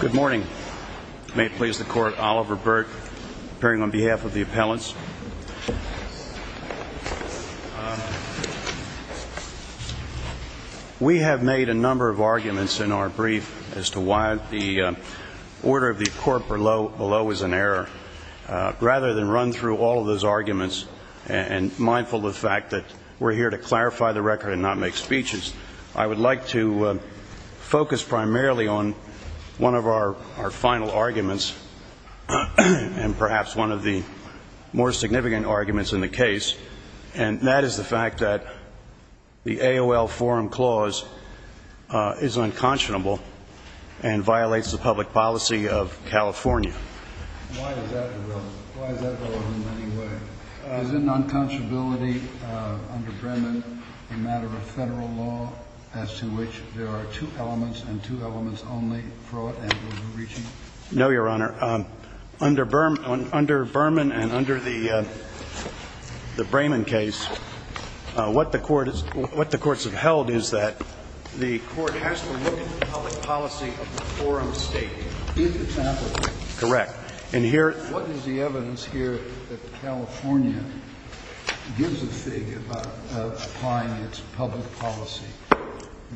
Good morning. May it please the court, Oliver Burke appearing on behalf of the Court of Appeals. We have made a number of arguments in our brief as to why the order of the court below is an error. Rather than run through all of those arguments, and mindful of the fact that we're here to clarify the record and not make speeches, I would like to focus primarily on one of our final arguments, and perhaps one of the more significant arguments in the case, and that is the fact that the AOL Forum Clause is unconscionable and violates the public policy of California. Why is that relevant anyway? Is it an unconscionability under Berman, a matter of federal law, as to which there are two elements, and two elements only, fraud and overreaching? No, Your Honor. Under Berman and under the Brayman case, what the courts have held is that the court has to look at the public policy of the forum state. Give an example. Correct. And here — What is the evidence here that California gives a fig about applying its public policy?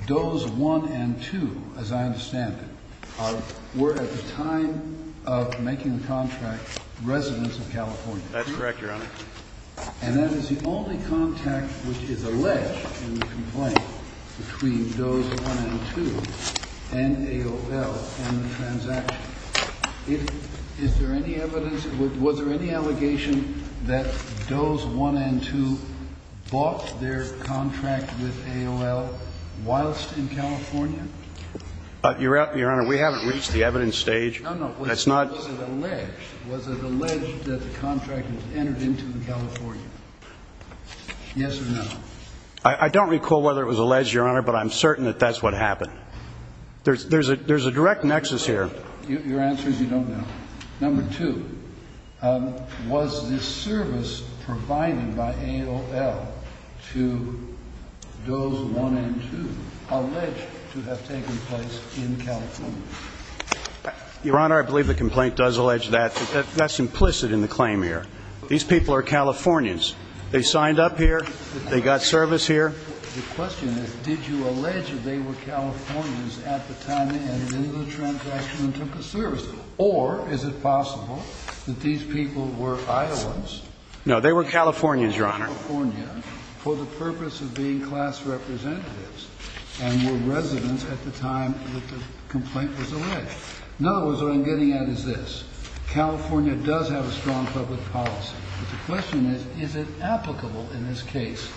Does 1 and 2, as I understand it, were at the time of making the contract residents of California. That's correct, Your Honor. And that is the only contact which is alleged in the complaint between Does 1 and 2 and AOL in the transaction. Is there any evidence — was there any allegation that Does 1 and 2 bought their contract with AOL whilst in California? Your Honor, we haven't reached the evidence stage. No, no. Was it alleged? Was it alleged that the contract was entered into in California? Yes or no? I don't recall whether it was alleged, Your Honor, but I'm certain that that's what happened. There's a direct nexus here. Your answer is you don't know. Number two, was this service provided by AOL to Does 1 and 2 alleged to have taken place in California? Your Honor, I believe the complaint does allege that. That's implicit in the claim here. These people are Californians. They signed up here. They got service here. The question is, did you allege that they were Californians at the time they entered into the transaction and took the service? Or is it possible that these people were Iowans? No, they were Californians, Your Honor. For the purpose of being class representatives and were residents at the time that the complaint was alleged. In other words, what I'm getting at is this. California does have a strong public policy. But the question is, is it applicable in this case,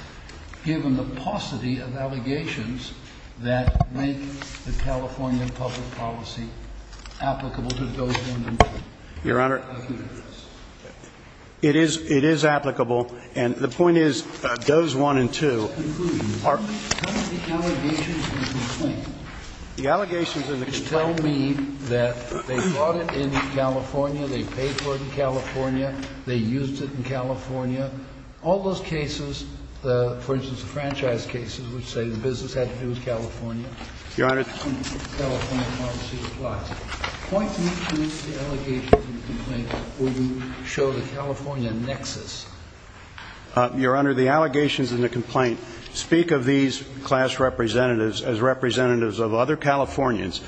given the paucity of allegations that make the California public policy applicable to Does 1 and 2? Your Honor, it is applicable. And the point is, Does 1 and 2 are. What are the allegations in the complaint? The allegations in the complaint. They tell me that they bought it in California. They paid for it in California. They used it in California. All those cases, for instance, the franchise cases, which say the business had to do with California. Your Honor. California policy applies. Point me to the allegations in the complaint where you show the California nexus. Your Honor, the allegations in the complaint speak of these class representatives as representatives of other Californians,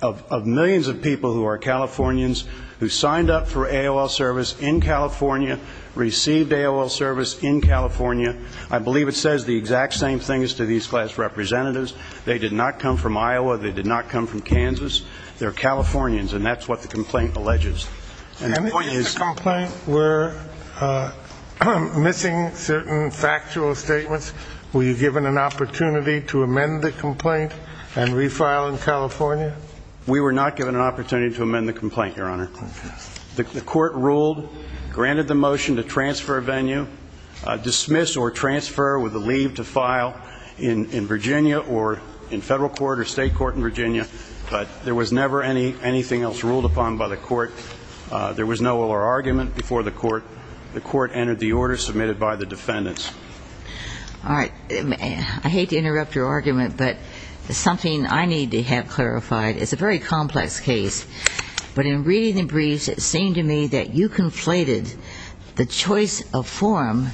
of millions of people who are Californians, who signed up for AOL service in California, received AOL service in California. I believe it says the exact same thing as to these class representatives. They did not come from Iowa. They did not come from Kansas. They're Californians. And that's what the complaint alleges. And the point is the complaint were missing certain factual statements. Were you given an opportunity to amend the complaint and refile in California? We were not given an opportunity to amend the complaint, Your Honor. Okay. The court ruled, granted the motion to transfer venue, dismiss or transfer with a leave to file in Virginia or in federal court or state court in Virginia. But there was never anything else ruled upon by the court. There was no oral argument before the court. The court entered the order submitted by the defendants. All right. I hate to interrupt your argument, but something I need to have clarified. It's a very complex case. But in reading the briefs, it seemed to me that you conflated the choice of forum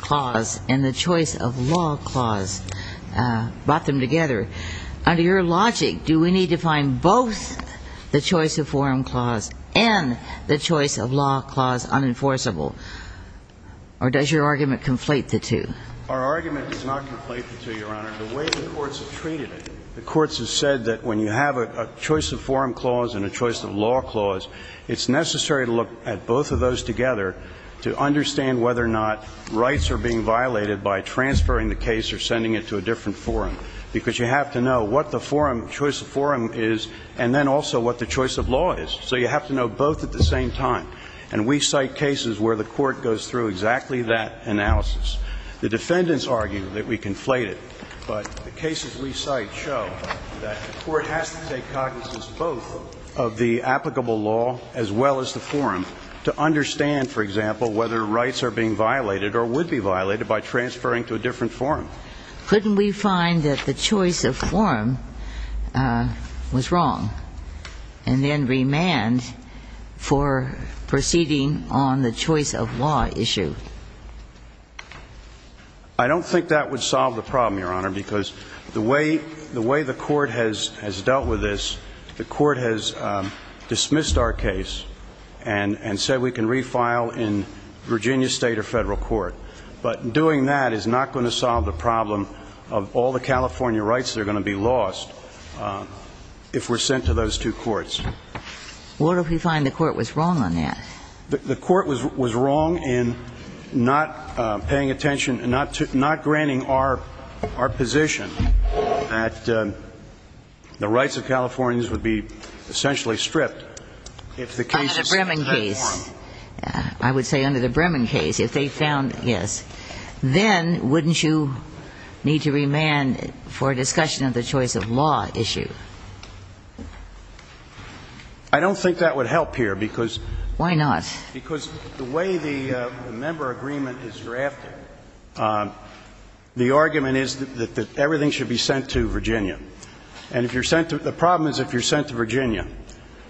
clause and the choice of law clause, brought them together. Under your logic, do we need to find both the choice of forum clause and the choice of law clause unenforceable? Or does your argument conflate the two? Our argument does not conflate the two, Your Honor. The way the courts have treated it, the courts have said that when you have a choice of forum clause and a choice of law clause, it's necessary to look at both of those together to understand whether or not rights are being violated by transferring the case or sending it to a different forum. Because you have to know what the forum, choice of forum is and then also what the choice of law is. So you have to know both at the same time. And we cite cases where the court goes through exactly that analysis. The defendants argue that we conflate it. But the cases we cite show that the court has to take cognizance both of the applicable law as well as the forum to understand, for example, whether rights are being violated or would be violated by transferring to a different forum. Couldn't we find that the choice of forum was wrong and then remand for proceeding on the choice of law issue? I don't think that would solve the problem, Your Honor, because the way the court has dealt with this, the court has dismissed our case and said we can refile in Virginia State or federal court. But doing that is not going to solve the problem of all the California rights that are going to be lost if we're sent to those two courts. What if we find the court was wrong on that? The court was wrong in not paying attention, not granting our position that the rights of Californians would be essentially stripped if the case is sent to a different forum. I would say under the Bremen case, if they found, yes, then wouldn't you need to remand for discussion of the choice of law issue? I don't think that would help here because the way the member agreement is drafted, the argument is that everything should be sent to Virginia. And if you're sent to the problem is if you're sent to Virginia,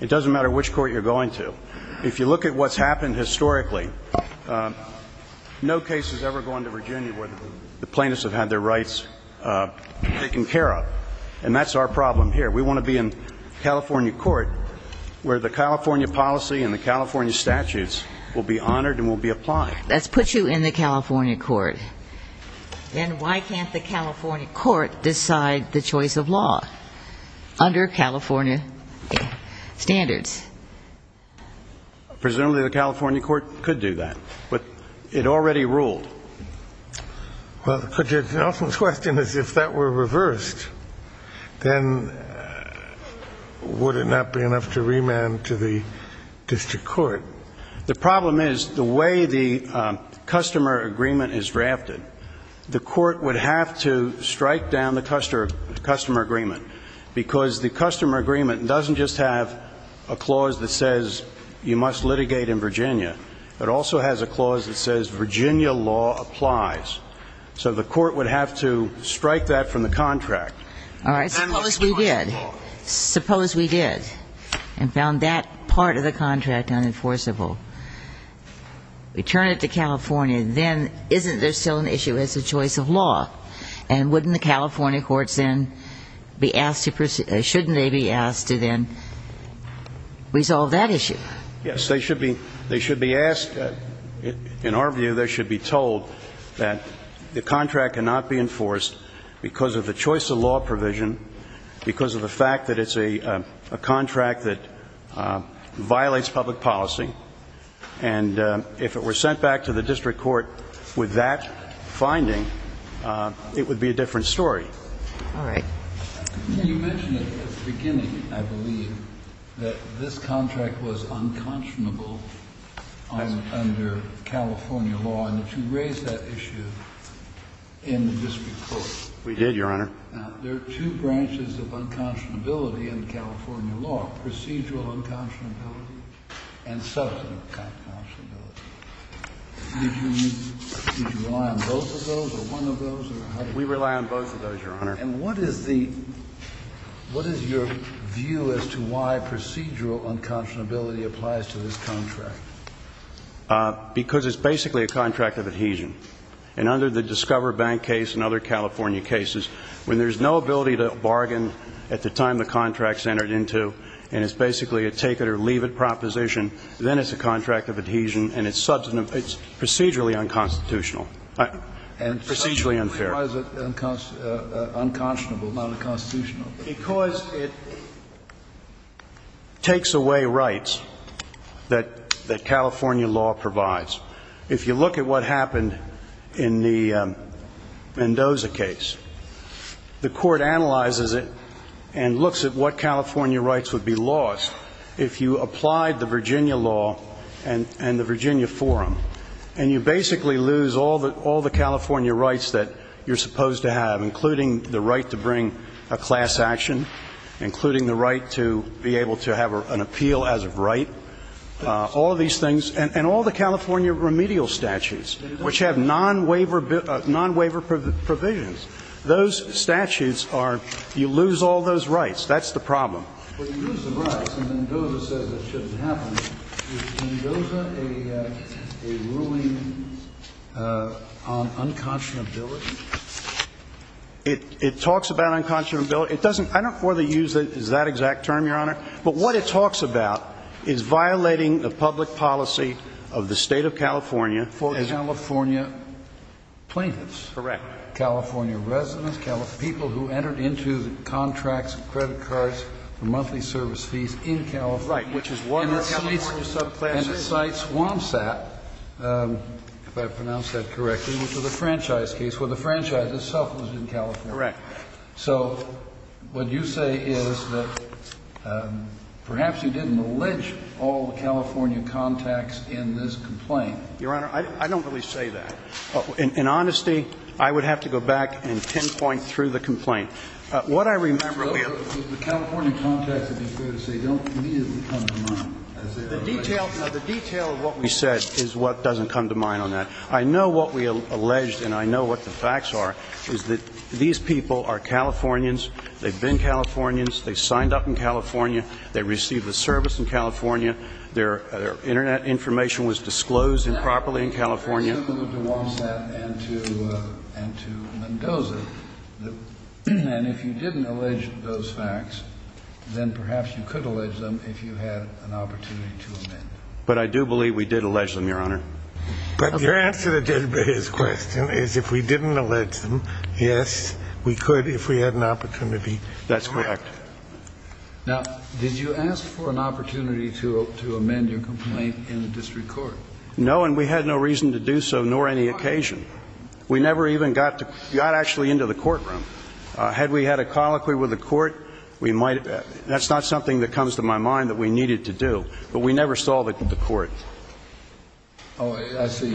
it doesn't matter which court you're going to. If you look at what's happened historically, no case has ever gone to Virginia where the plaintiffs have had their rights taken care of. And that's our problem here. We want to be in California court where the California policy and the California statutes will be honored and will be applied. Let's put you in the California court. Then why can't the California court decide the Presumably the California court could do that, but it already ruled. Well, the question is, if that were reversed, then would it not be enough to remand to the district court? The problem is the way the customer agreement is drafted, the court would have to strike down the customer agreement because the customer agreement doesn't just have a clause that says you must litigate in Virginia. It also has a clause that says Virginia law applies. So the court would have to strike that from the contract. All right. Suppose we did. Suppose we did. And found that part of the contract unenforceable. We turn it to California. Then isn't there still an issue as a choice of law? And wouldn't the California courts then be asked to be asked to then resolve that issue? Yes. They should be asked. In our view, they should be told that the contract cannot be enforced because of the choice of law provision, because of the fact that it's a contract that violates public policy. And if it were sent back to the district court with that finding, it would be a different story. All right. You mentioned at the beginning, I believe, that this contract was unconscionable under California law, and that you raised that issue in the district court. We did, Your Honor. Now, there are two branches of unconscionability in California law, procedural unconscionability and substantive unconscionability. Did you rely on both of those or one of those? We rely on both of those, Your Honor. And what is the – what is your view as to why procedural unconscionability applies to this contract? Because it's basically a contract of adhesion. And under the Discover Bank case and other California cases, when there's no ability to bargain at the time the contract's entered into, and it's basically a take-it-or-leave-it proposition, then it's a contract of adhesion, and it's procedurally unconstitutional – procedurally unfair. Why is it unconscionable, not unconstitutional? Because it takes away rights that California law provides. If you look at what happened in the Mendoza case, the court analyzes it and looks at what California rights would be lost if you applied the Virginia law and the Virginia forum. And you basically lose all the California rights that you're supposed to have, including the right to bring a class action, including the right to be able to have an appeal as of right. All of these things – and all the California remedial statutes, which have non-waiver provisions, those statutes are – you lose all those rights. That's the problem. Well, you lose the rights, and Mendoza says it shouldn't happen. Is Mendoza a ruling on unconscionability? It talks about unconscionability. It doesn't – I don't know whether to use that exact term, Your Honor, but what it talks about is violating the public policy of the State of California. For California plaintiffs. Correct. California residents, people who entered into the contracts, credit cards for monthly service fees in California. Right, which is one of the California subclasses. And the site SwampSat, if I pronounced that correctly, which was a franchise case where the franchise itself was in California. Correct. So what you say is that perhaps you didn't allege all the California contacts in this complaint. Your Honor, I don't really say that. In honesty, I would have to go back and pinpoint through the complaint. What I remember – The California contacts, to be fair to say, don't immediately come to mind. The detail of what we said is what doesn't come to mind on that. I know what we alleged, and I know what the facts are, is that these people are Californians, they've been Californians, they signed up in California, they received a service in California, their Internet information was disclosed improperly in California. So I'm going to move to Wompsat and to Mendoza. And if you didn't allege those facts, then perhaps you could allege them if you had an opportunity to amend. But I do believe we did allege them, Your Honor. But your answer to Judge Breyer's question is if we didn't allege them, yes, we could if we had an opportunity. That's correct. Now, did you ask for an opportunity to amend your complaint in the district court? No, and we had no reason to do so, nor any occasion. We never even got actually into the courtroom. Had we had a colloquy with the court, we might have – that's not something that comes to my mind that we needed to do. But we never saw the court. Oh, I see.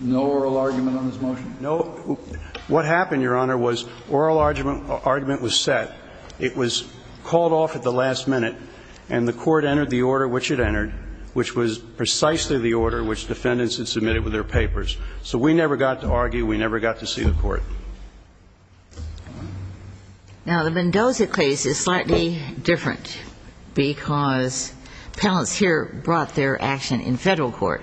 No oral argument on this motion? No. What happened, Your Honor, was oral argument was set. It was called off at the last minute, and the court entered the order which it defendants had submitted with their papers. So we never got to argue. We never got to see the court. Now, the Mendoza case is slightly different because appellants here brought their action in federal court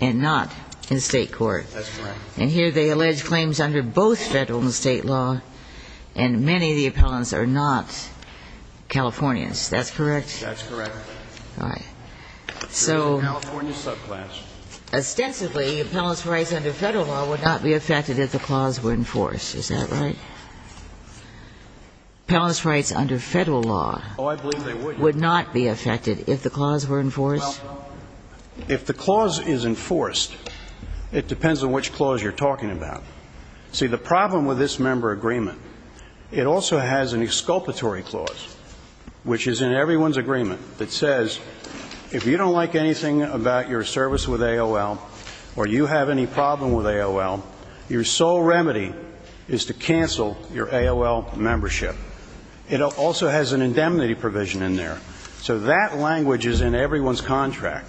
and not in state court. That's correct. And here they allege claims under both federal and state law, and many of the appellants are not Californians. That's correct? That's correct. All right. There is a California subclass. Ostensibly, appellants' rights under federal law would not be affected if the clause were enforced. Is that right? Appellants' rights under federal law would not be affected if the clause were enforced? Well, if the clause is enforced, it depends on which clause you're talking about. See, the problem with this member agreement, it also has an exculpatory clause, which is in everyone's agreement that says if you don't like anything about your service with AOL or you have any problem with AOL, your sole remedy is to cancel your AOL membership. It also has an indemnity provision in there. So that language is in everyone's contract.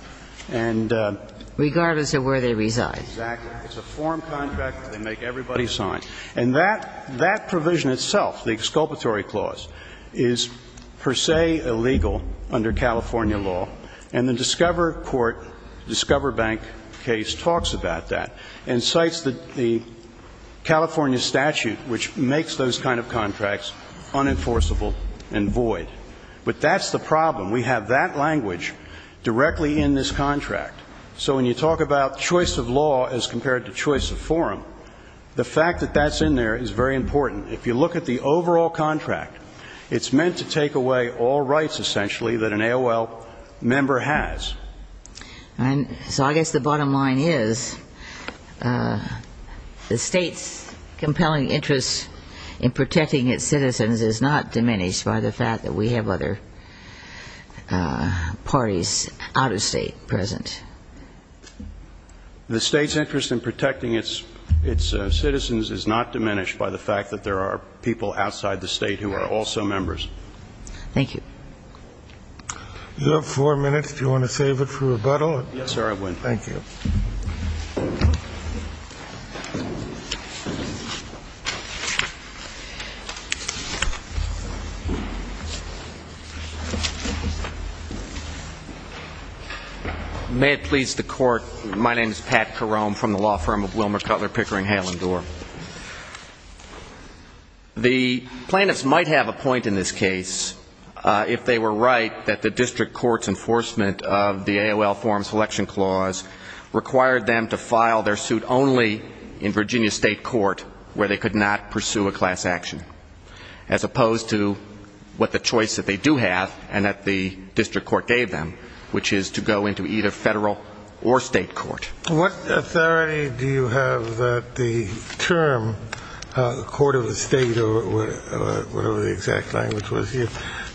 Regardless of where they reside. Exactly. It's a form contract that they make everybody sign. And that provision itself, the exculpatory clause, is per se illegal under California law. And the Discover Court, Discover Bank case, talks about that and cites the California statute which makes those kind of contracts unenforceable and void. But that's the problem. We have that language directly in this contract. So when you talk about choice of law as compared to choice of forum, the fact that that's in there is very important. If you look at the overall contract, it's meant to take away all rights, essentially, that an AOL member has. So I guess the bottom line is the state's compelling interest in protecting its citizens is not diminished by the fact that we have other parties out of state present. The state's interest in protecting its citizens is not diminished by the fact that there are people outside the state who are also members. Thank you. You have four minutes if you want to save it for rebuttal. Yes, sir, I will. Thank you. May it please the court, my name is Pat Carone from the law firm of Wilmer Cutler Pickering Hale and Dorr. The plaintiffs might have a point in this case if they were right that the district court's enforcement of the AOL Forum Selection Clause required the to file their suit only in Virginia state court where they could not pursue a class action, as opposed to what the choice that they do have and that the district court gave them, which is to go into either federal or state court. What authority do you have that the term court of the state, or whatever the exact language was here,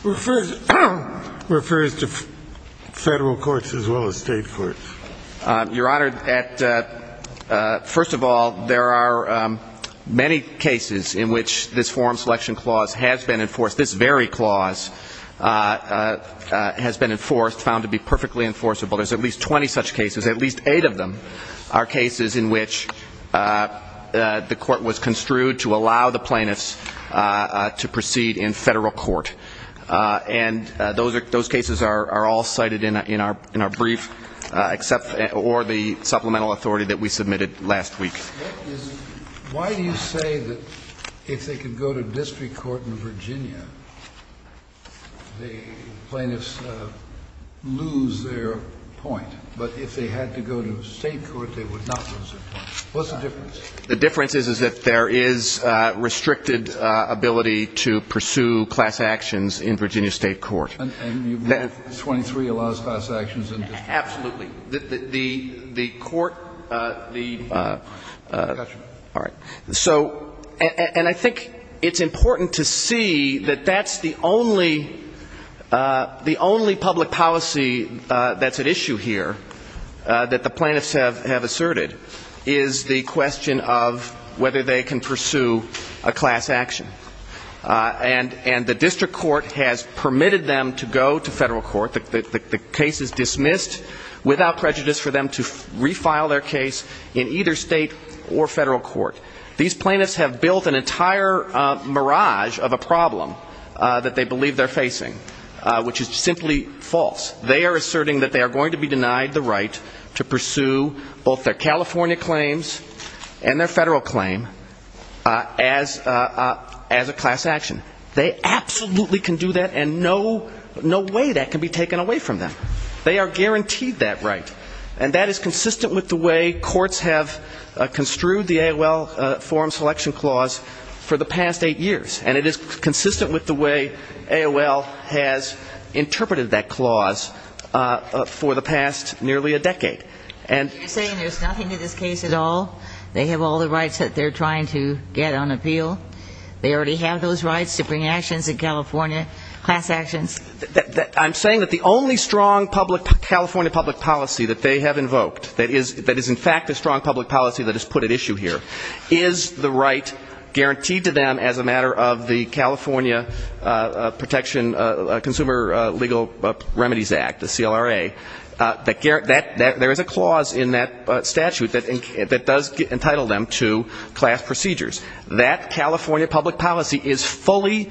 refers to federal courts as well as state courts? Your Honor, first of all, there are many cases in which this Forum Selection Clause has been enforced. This very clause has been enforced, found to be perfectly enforceable. There's at least 20 such cases. At least eight of them are cases in which the court was construed to allow the plaintiffs to proceed in federal court. And those cases are all cited in our brief or the supplemental authority that we submitted last week. Why do you say that if they could go to district court in Virginia, the plaintiffs lose their point, but if they had to go to state court, they would What's the difference? The difference is, is that there is restricted ability to pursue class actions in Virginia state court. And 23 allows class actions in district court? Absolutely. The court the Gotcha. All right. So, and I think it's important to see that that's the only public policy issue here that the plaintiffs have asserted is the question of whether they can pursue a class action. And the district court has permitted them to go to federal court. The case is dismissed without prejudice for them to refile their case in either state or federal court. These plaintiffs have built an entire mirage of a problem that they believe they're facing, which is simply false. They are asserting that they are going to be denied the right to pursue both their California claims and their federal claim as a class action. They absolutely can do that, and no way that can be taken away from them. They are guaranteed that right. And that is consistent with the way courts have construed the AOL forum selection clause for the past eight years, and it is consistent with the way nearly a decade. You're saying there's nothing to this case at all? They have all the rights that they're trying to get on appeal? They already have those rights to bring actions in California, class actions? I'm saying that the only strong California public policy that they have invoked, that is in fact a strong public policy that is put at issue here, is the right guaranteed to them as a matter of the California Protection Consumer Legal Remedies Act, the CLRA. There is a clause in that statute that does entitle them to class procedures. That California public policy is fully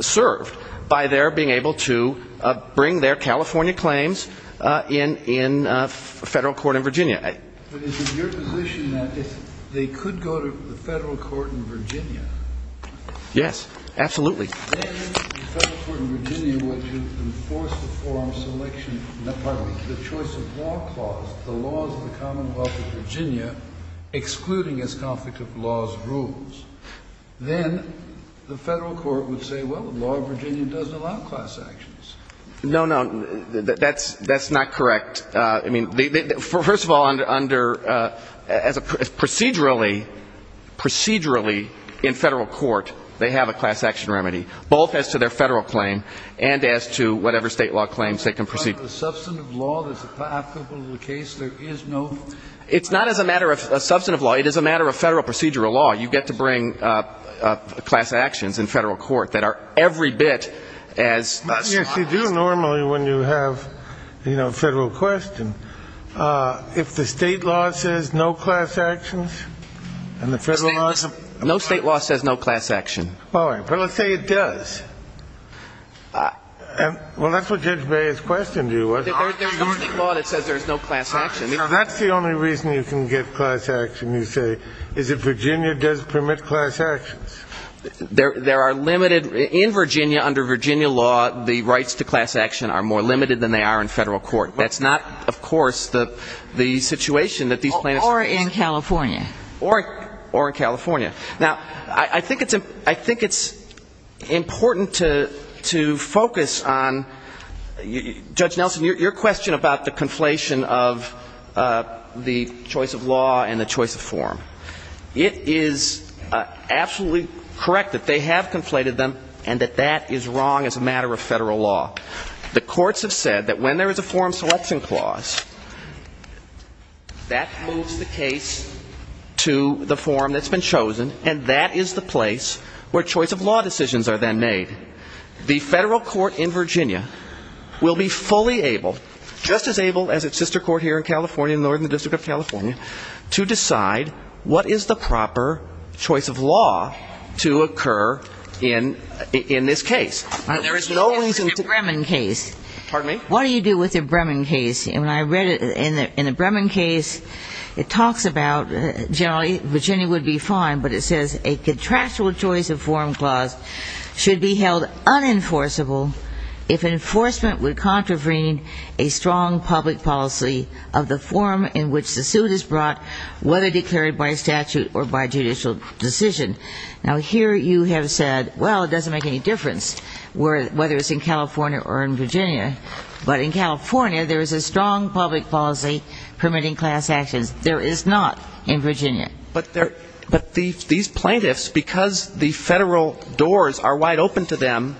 served by their being able to bring their California claims in federal court in Virginia. But is it your position that they could go to the federal court in Virginia? Yes, absolutely. Then the federal court in Virginia would enforce the forum selection, pardon me, the choice of law clause, the laws of the commonwealth of Virginia, excluding as conflict of laws rules. Then the federal court would say, well, the law of Virginia doesn't allow class actions. No, no, that's not correct. I mean, first of all, under as a procedurally, procedurally in federal court, they have a class action remedy, both as to their federal claim and as to whatever state law claims they can proceed. Is it part of the substantive law that's applicable to the case? There is no? It's not as a matter of substantive law. It is a matter of federal procedural law. You get to bring class actions in federal court that are every bit as strong. Yes, you do normally when you have, you know, a federal question. If the state law says no class actions and the federal law says no class actions, all right, well, let's say it does. Well, that's what Judge Baer's question to you was. There's no state law that says there's no class action. That's the only reason you can get class action, you say, is if Virginia does permit class actions. There are limited, in Virginia, under Virginia law, the rights to class action are more limited than they are in federal court. That's not, of course, the situation that these plaintiffs have. Or in California. Or in California. Now, I think it's important to focus on, Judge Nelson, your question about the conflation of the choice of law and the choice of form. It is absolutely correct that they have conflated them and that that is wrong as a matter of federal law. The courts have said that when there is a form selection clause, that moves the case to the form that's been chosen, and that is the place where choice of law decisions are then made. The federal court in Virginia will be fully able, just as able as its sister court here in California, in the Northern District of California, to decide what is the proper choice of law to occur in this case. There is no reason to ‑‑ What do you do with the Bremen case? Pardon me? What do you do with the Bremen case? When I read it in the Bremen case, it talks about generally Virginia would be fine, but it says a contractual choice of form clause should be held unenforceable if enforcement would contravene a strong public policy of the form in which the suit is brought, whether declared by statute or by judicial decision. Now, here you have said, well, it doesn't make any difference whether it's in California or in Virginia. But in California, there is a strong public policy permitting class actions. There is not in Virginia. But these plaintiffs, because the federal doors are wide open to them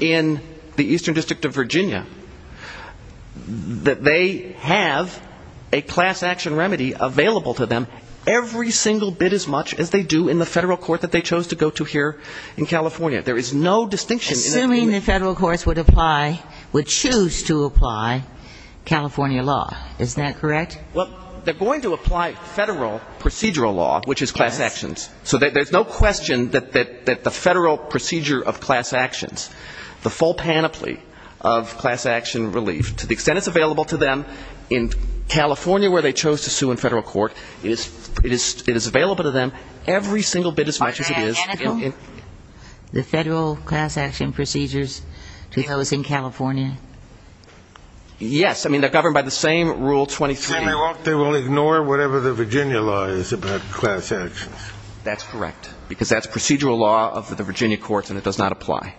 in the Eastern District of Virginia, that they have a class action remedy available to them every single bit as much as they do in the federal court that they chose to go to here in California. There is no distinction. But assuming the federal courts would apply, would choose to apply California law, is that correct? Well, they're going to apply federal procedural law, which is class actions. Yes. So there's no question that the federal procedure of class actions, the full panoply of class action relief, to the extent it's available to them in California where they chose to sue in federal court, it is available to them every single bit as much as it is. Is that identical, the federal class action procedures to those in California? Yes. I mean, they're governed by the same Rule 22. And they will ignore whatever the Virginia law is about class actions. That's correct, because that's procedural law of the Virginia courts, and it does not apply.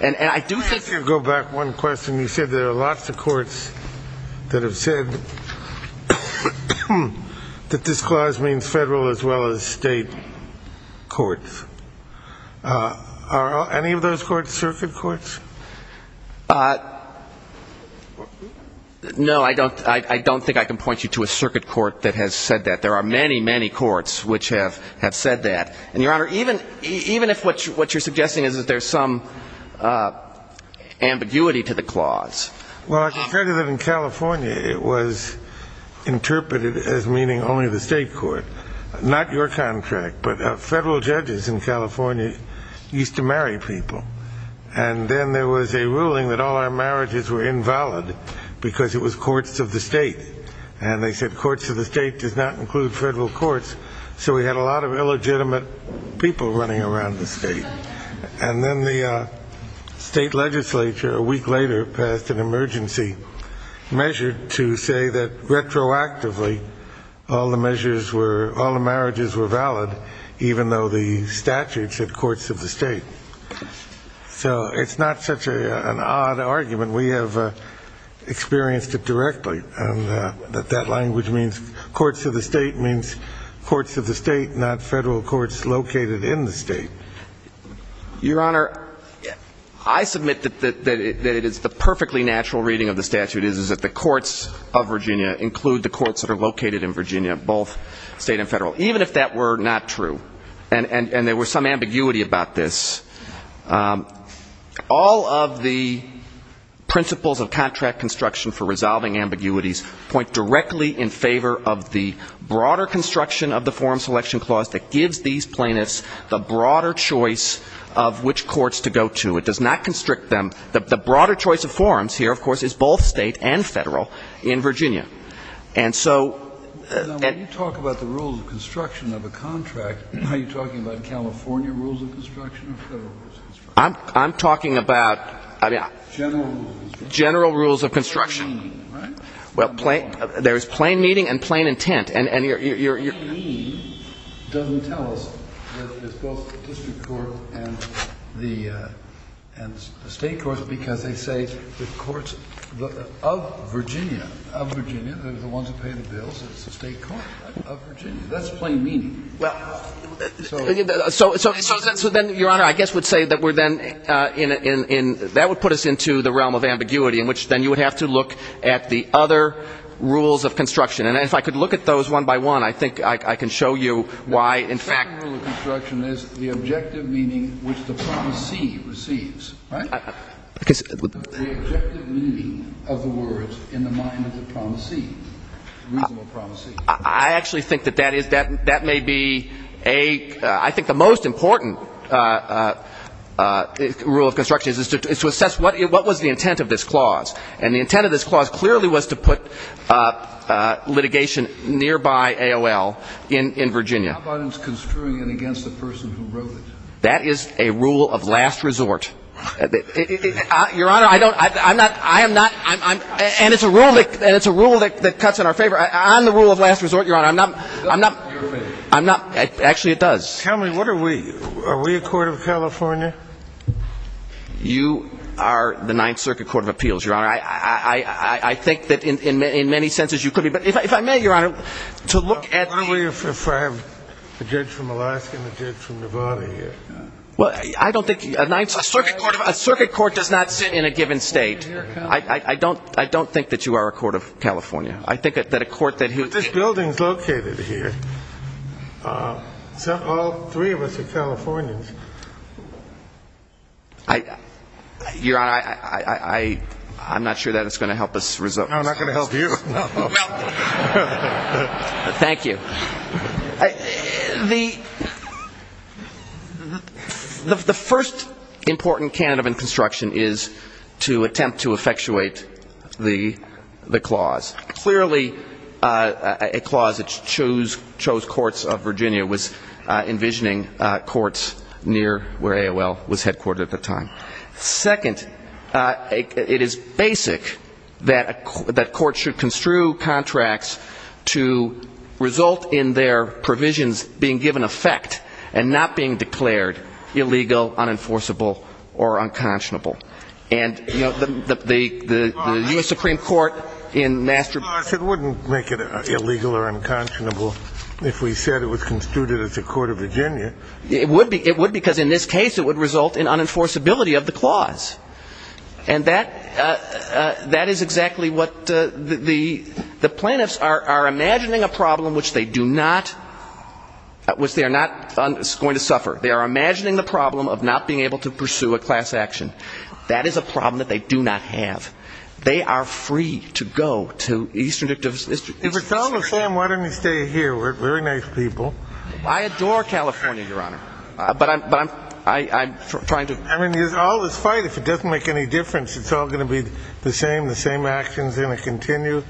And I do think that you're going to go back one question. You said there are lots of courts that have said that this clause means federal as well as state courts. Are any of those courts circuit courts? No, I don't think I can point you to a circuit court that has said that. There are many, many courts which have said that. And, Your Honor, even if what you're suggesting is that there's some ambiguity to the clause. Well, I can tell you that in California it was interpreted as meaning only the state court. Not your contract, but federal judges in California used to marry people. And then there was a ruling that all our marriages were invalid because it was courts of the state. And they said courts of the state does not include federal courts, so we had a lot of illegitimate people running around the state. And then the state legislature, a week later, passed an emergency measure to say that retroactively all the marriages were valid, even though the statute said courts of the state. So it's not such an odd argument. We have experienced it directly. And that language means courts of the state means courts of the state, not Your Honor, I submit that it is the perfectly natural reading of the statute is that the courts of Virginia include the courts that are located in Virginia, both state and federal, even if that were not true. And there was some ambiguity about this. All of the principles of contract construction for resolving ambiguities point directly in favor of the broader construction of the forum selection clause that gives these plaintiffs the broader choice of which courts to go to. It does not constrict them. The broader choice of forums here, of course, is both state and federal in Virginia. And so at the end of the day, it's not just the courts of the state. Kennedy. Now, when you talk about the rules of construction of a contract, are you talking about California rules of construction or federal rules of construction? I'm talking about general rules of construction. General rules of construction. There's a meaning, right? Well, there's plain meaning and plain intent. And your meaning doesn't tell us that it's both the district court and the state court because they say the courts of Virginia, of Virginia, they're the ones who pay the bills, it's the state court of Virginia. That's plain meaning. Well, so then, Your Honor, I guess would say that we're then in the realm of ambiguity in which then you would have to look at the other rules of construction. And if I could look at those one by one, I think I can show you why, in fact The second rule of construction is the objective meaning which the promisee receives, right? Because The objective meaning of the words in the mind of the promisee, reasonable promisee. I actually think that that is, that may be a, I think the most important rule of construction is to assess what was the intent of this clause. And the intent of this clause clearly was to put litigation nearby AOL in Virginia. How about it was construing it against the person who wrote it? That is a rule of last resort. Your Honor, I don't, I'm not, I am not, I'm, I'm, and it's a rule that, and it's a rule that cuts in our favor. I'm the rule of last resort, Your Honor. I'm not, I'm not, I'm not, actually it does. Tell me, what are we? Are we a court of California? You are the Ninth Circuit Court of Appeals, Your Honor. I, I, I, I, I think that in, in, in many senses you could be. But if I, if I may, Your Honor, to look at the What if I have a judge from Alaska and a judge from Nevada here? Well, I don't think, a Ninth Circuit Court, a circuit court does not sit in a given state. I, I, I don't, I don't think that you are a court of California. I think that a court that But this building is located here. All three of us are Californians. I, Your Honor, I, I, I, I, I'm not sure that it's going to help us resolve this. No, not going to help you. No. No. Thank you. I, the, the first important candidate in construction is to attempt to effectuate the, the clause. Clearly, a clause that chose, chose courts of Virginia was envisioning courts near where AOL was headquartered at the time. Second, it is basic that a, that courts should construe contracts to result in their provisions being given effect and not being declared illegal, unenforceable, or unconscionable. And, you know, the, the, the, the U.S. Supreme Court in master It wouldn't make it illegal or unconscionable if we said it was construed as a court of Virginia. It would be, it would because in this case it would result in unenforceability of the clause. And that, that is exactly what the, the, the plaintiffs are, are imagining a problem which they do not, which they are not going to suffer. They are imagining the problem of not being able to pursue a class action. That is a problem that they do not have. They are free to go to Eastern District of, Eastern District of California. If it's all the same, why don't you stay here? We're very nice people. I adore California, Your Honor. But I'm, but I'm, I, I'm trying to I mean, all this fight, if it doesn't make any difference, it's all going to be the same, the same actions going to continue.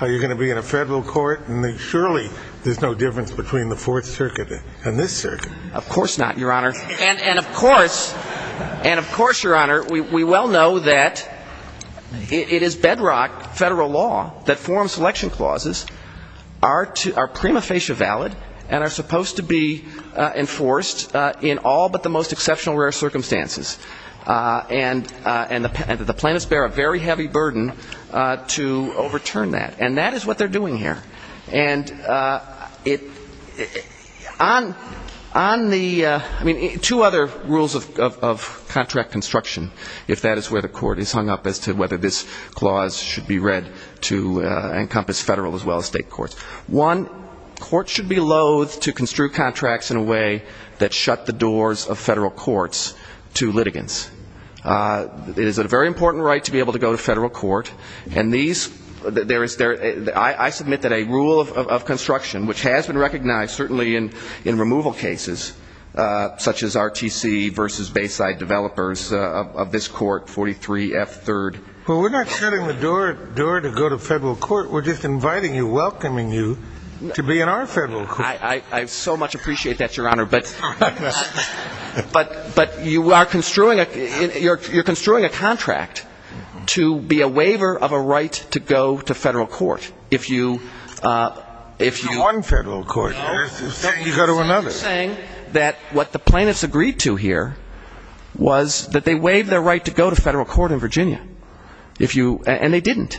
You're going to be in a federal court, and surely there's no difference between the Fourth Circuit and this circuit. Of course not, Your Honor. And, and of course, and of course, Your Honor, we, we well know that it is bedrock federal law that forum selection clauses are to, are prima facie valid and are supposed to be enforced in all but the most exceptional rare circumstances. And, and the plaintiffs bear a very heavy burden to overturn that. And that is what they're doing here. And it, on, on the, I mean, two other rules of contract construction, if that is where the court is hung up as to whether this clause should be read to encompass federal as well as state courts. One, courts should be loath to construe contracts in a way that shut the doors of federal courts to litigants. It is a very important right to be able to go to federal court. And these, there is, I submit that a rule of construction, which has been recognized certainly in, in removal cases, such as RTC versus Bayside Developers of this court, 43F3rd. Well, we're not shutting the door, door to go to federal court. We're just inviting you, welcoming you to be in our federal court. I, I, I so much appreciate that, Your Honor. But, but, but you are construing a, you're, you're construing a contract to be a waiver of a right to go to federal court. If you, if you. One federal court. No. You go to another. Saying that what the plaintiffs agreed to here was that they waived their right to go to federal court in Virginia. If you, and they didn't.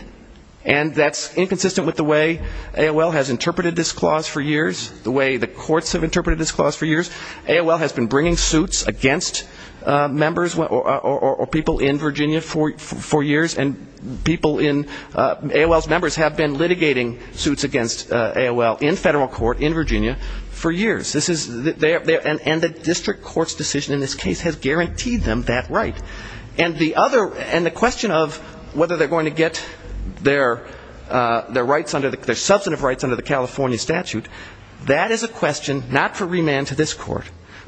And that's inconsistent with the way AOL has interpreted this clause for years, the way the courts have interpreted this clause for years. AOL has been bringing suits against members or people in Virginia for, for years. And people in, AOL's members have been litigating suits against AOL in federal court in Virginia for years. This is, and the district court's decision in this case has guaranteed them that right. And the other, and the question of whether they're going to get their, their rights under the, their substantive rights under the California statute, that is a question not for remand to this court,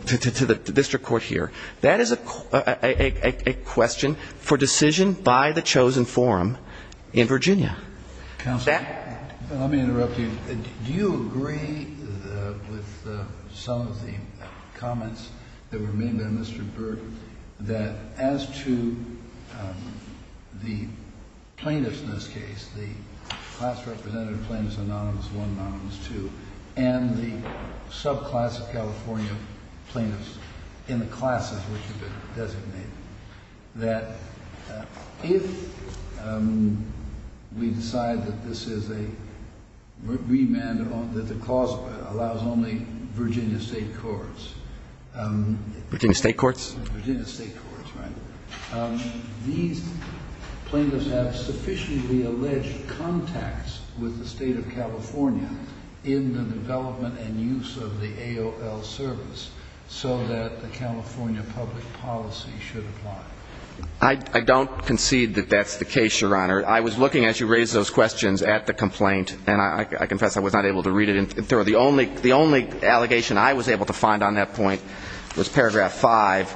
to, to, to the district court here. That is a, a, a, a question for decision by the chosen forum in Virginia. Counsel. That. Let me interrupt you. Do you agree with some of the comments that were made by Mr. Burke that as to the plaintiffs in this case, the class representative plaintiffs, anonymous one, anonymous two, and the subclass of California plaintiffs in the classes which have been designated. That if we decide that this is a remand that the cause allows only Virginia state courts. Virginia state courts. Virginia state courts, right. These plaintiffs have sufficiently alleged contacts with the state of California in the development and use of the AOL service. So that the California public policy should apply. I don't concede that that's the case. Your Honor. I was looking as you raised those questions at the complaint, and I confess I was not able to read it. And there are the only, the only allegation I was able to find on that point was paragraph five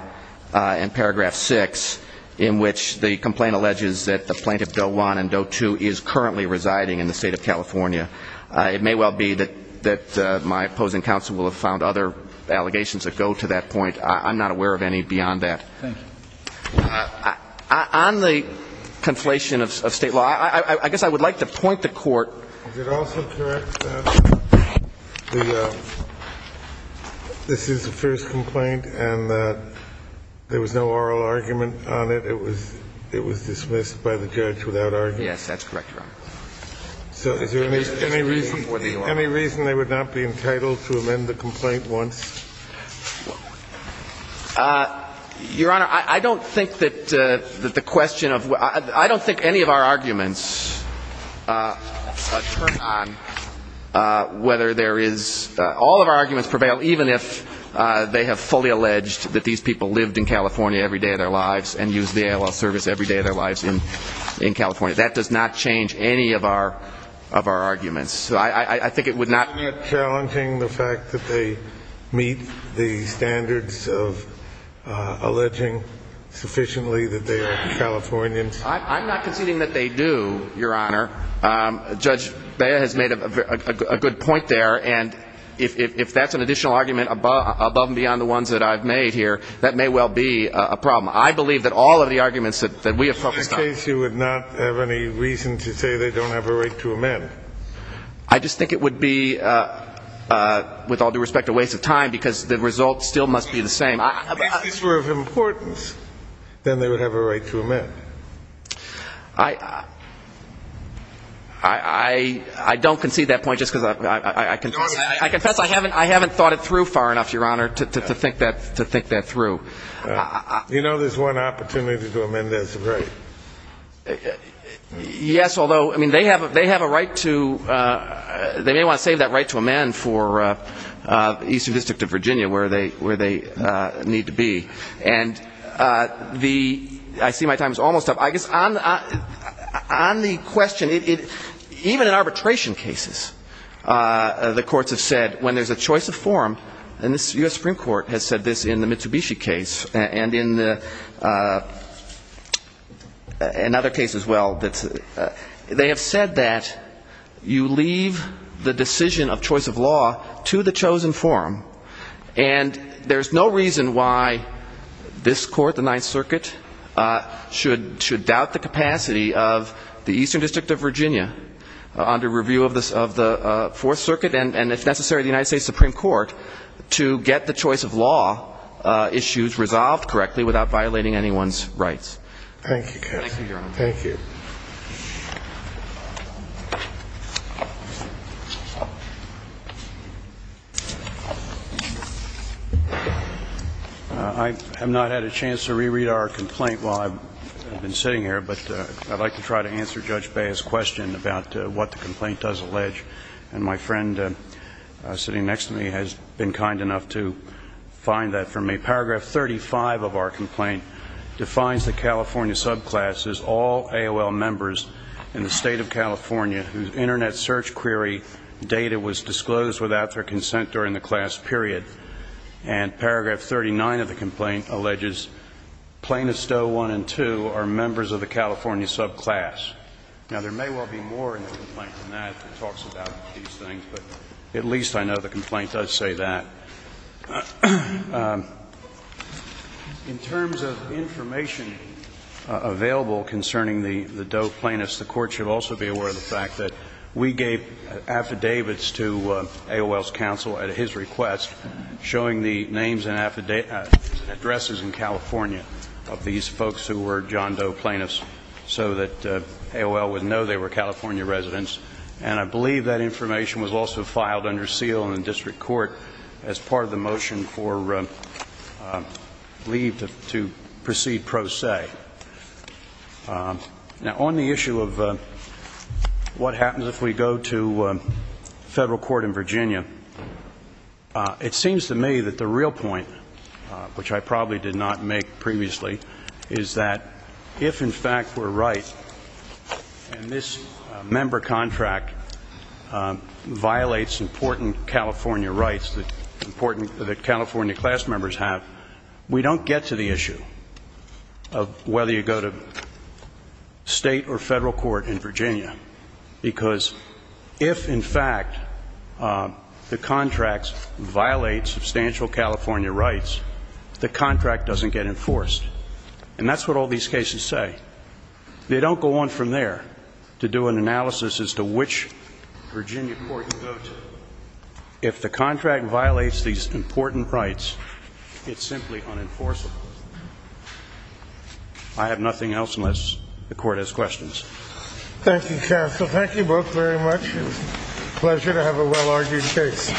and paragraph six, in which the complaint alleges that the plaintiff doe one and doe two is currently residing in the state of California. It may well be that my opposing counsel will have found other allegations that go to that point. I'm not aware of any beyond that. Thank you. On the conflation of state law, I guess I would like to point the court. Is it also correct that this is the first complaint and that there was no oral argument on it? It was dismissed by the judge without argument? Yes, that's correct, Your Honor. So is there any reason they would not be entitled to amend the complaint once? Your Honor, I don't think that the question of, I don't think any of our arguments turn on whether there is, all of our arguments prevail even if they have fully alleged that these people lived in California every day of their lives and used the AOL service every day of their lives in California. That does not change any of our arguments. So I think it would not. Isn't it challenging the fact that they meet the standards of alleging sufficiently that they are Californians? I'm not conceding that they do, Your Honor. Judge Bea has made a good point there. And if that's an additional argument above and beyond the ones that I've made here, that may well be a problem. I believe that all of the arguments that we have focused on. In that case, you would not have any reason to say they don't have a right to amend? I just think it would be, with all due respect, a waste of time because the results still must be the same. If these were of importance, then they would have a right to amend. I don't concede that point just because I confess I haven't thought it through far enough, Your Honor, to think that through. You know there's one opportunity to amend this, right? Yes, although, I mean, they have a right to they may want to save that right to amend for the Eastern District of Virginia where they need to be. And I see my time is almost up. I guess on the question, even in arbitration cases, the courts have said when there's a choice of form, and the U.S. Supreme Court has said this in the Mitsubishi case and in other cases as well, they have said that you leave the decision of choice of law to the chosen form. And there's no reason why this court, the Ninth Circuit, should doubt the capacity of the Eastern District of Virginia under review of the Fourth Circuit. And it's necessary to the United States Supreme Court to get the choice of law issues resolved correctly without violating anyone's rights. Thank you, counsel. Thank you, Your Honor. Thank you. I have not had a chance to reread our complaint while I've been sitting here, but I'd like to try to answer Judge Bea's question about what the complaint does allege. And my friend sitting next to me has been kind enough to find that for me. Paragraph 35 of our complaint defines the California subclass as all AOL members in the State of California whose Internet search query data was disclosed without their consent during the class period. And Paragraph 39 of the complaint alleges Plaintiffs' Doe 1 and 2 are members of the California subclass. Now, there may well be more in the complaint than that that talks about these things, but at least I know the complaint does say that. In terms of information available concerning the Doe Plaintiffs, the Court should also be aware of the fact that we gave affidavits to AOL's counsel at his request showing the names and addresses in California of these folks who were John Doe Plaintiffs so that AOL would know they were California residents. And I believe that information was also filed under seal in the district court as part of the motion for leave to proceed pro se. Now, on the issue of what happens if we go to federal court in Virginia, it seems to me that the real point, which I probably did not make previously, is that if, in fact, we're right and this member contract violates important California rights that California class members have, we don't get to the issue of whether you go to state or federal court in Virginia because if, in fact, the contract violates substantial California rights, the contract doesn't get enforced. And that's what all these cases say. They don't go on from there to do an analysis as to which Virginia court you go to. If the contract violates these important rights, it's simply unenforceable. I have nothing else unless the Court has questions. Thank you, counsel. Thank you both very much. It's a pleasure to have a well-argued case.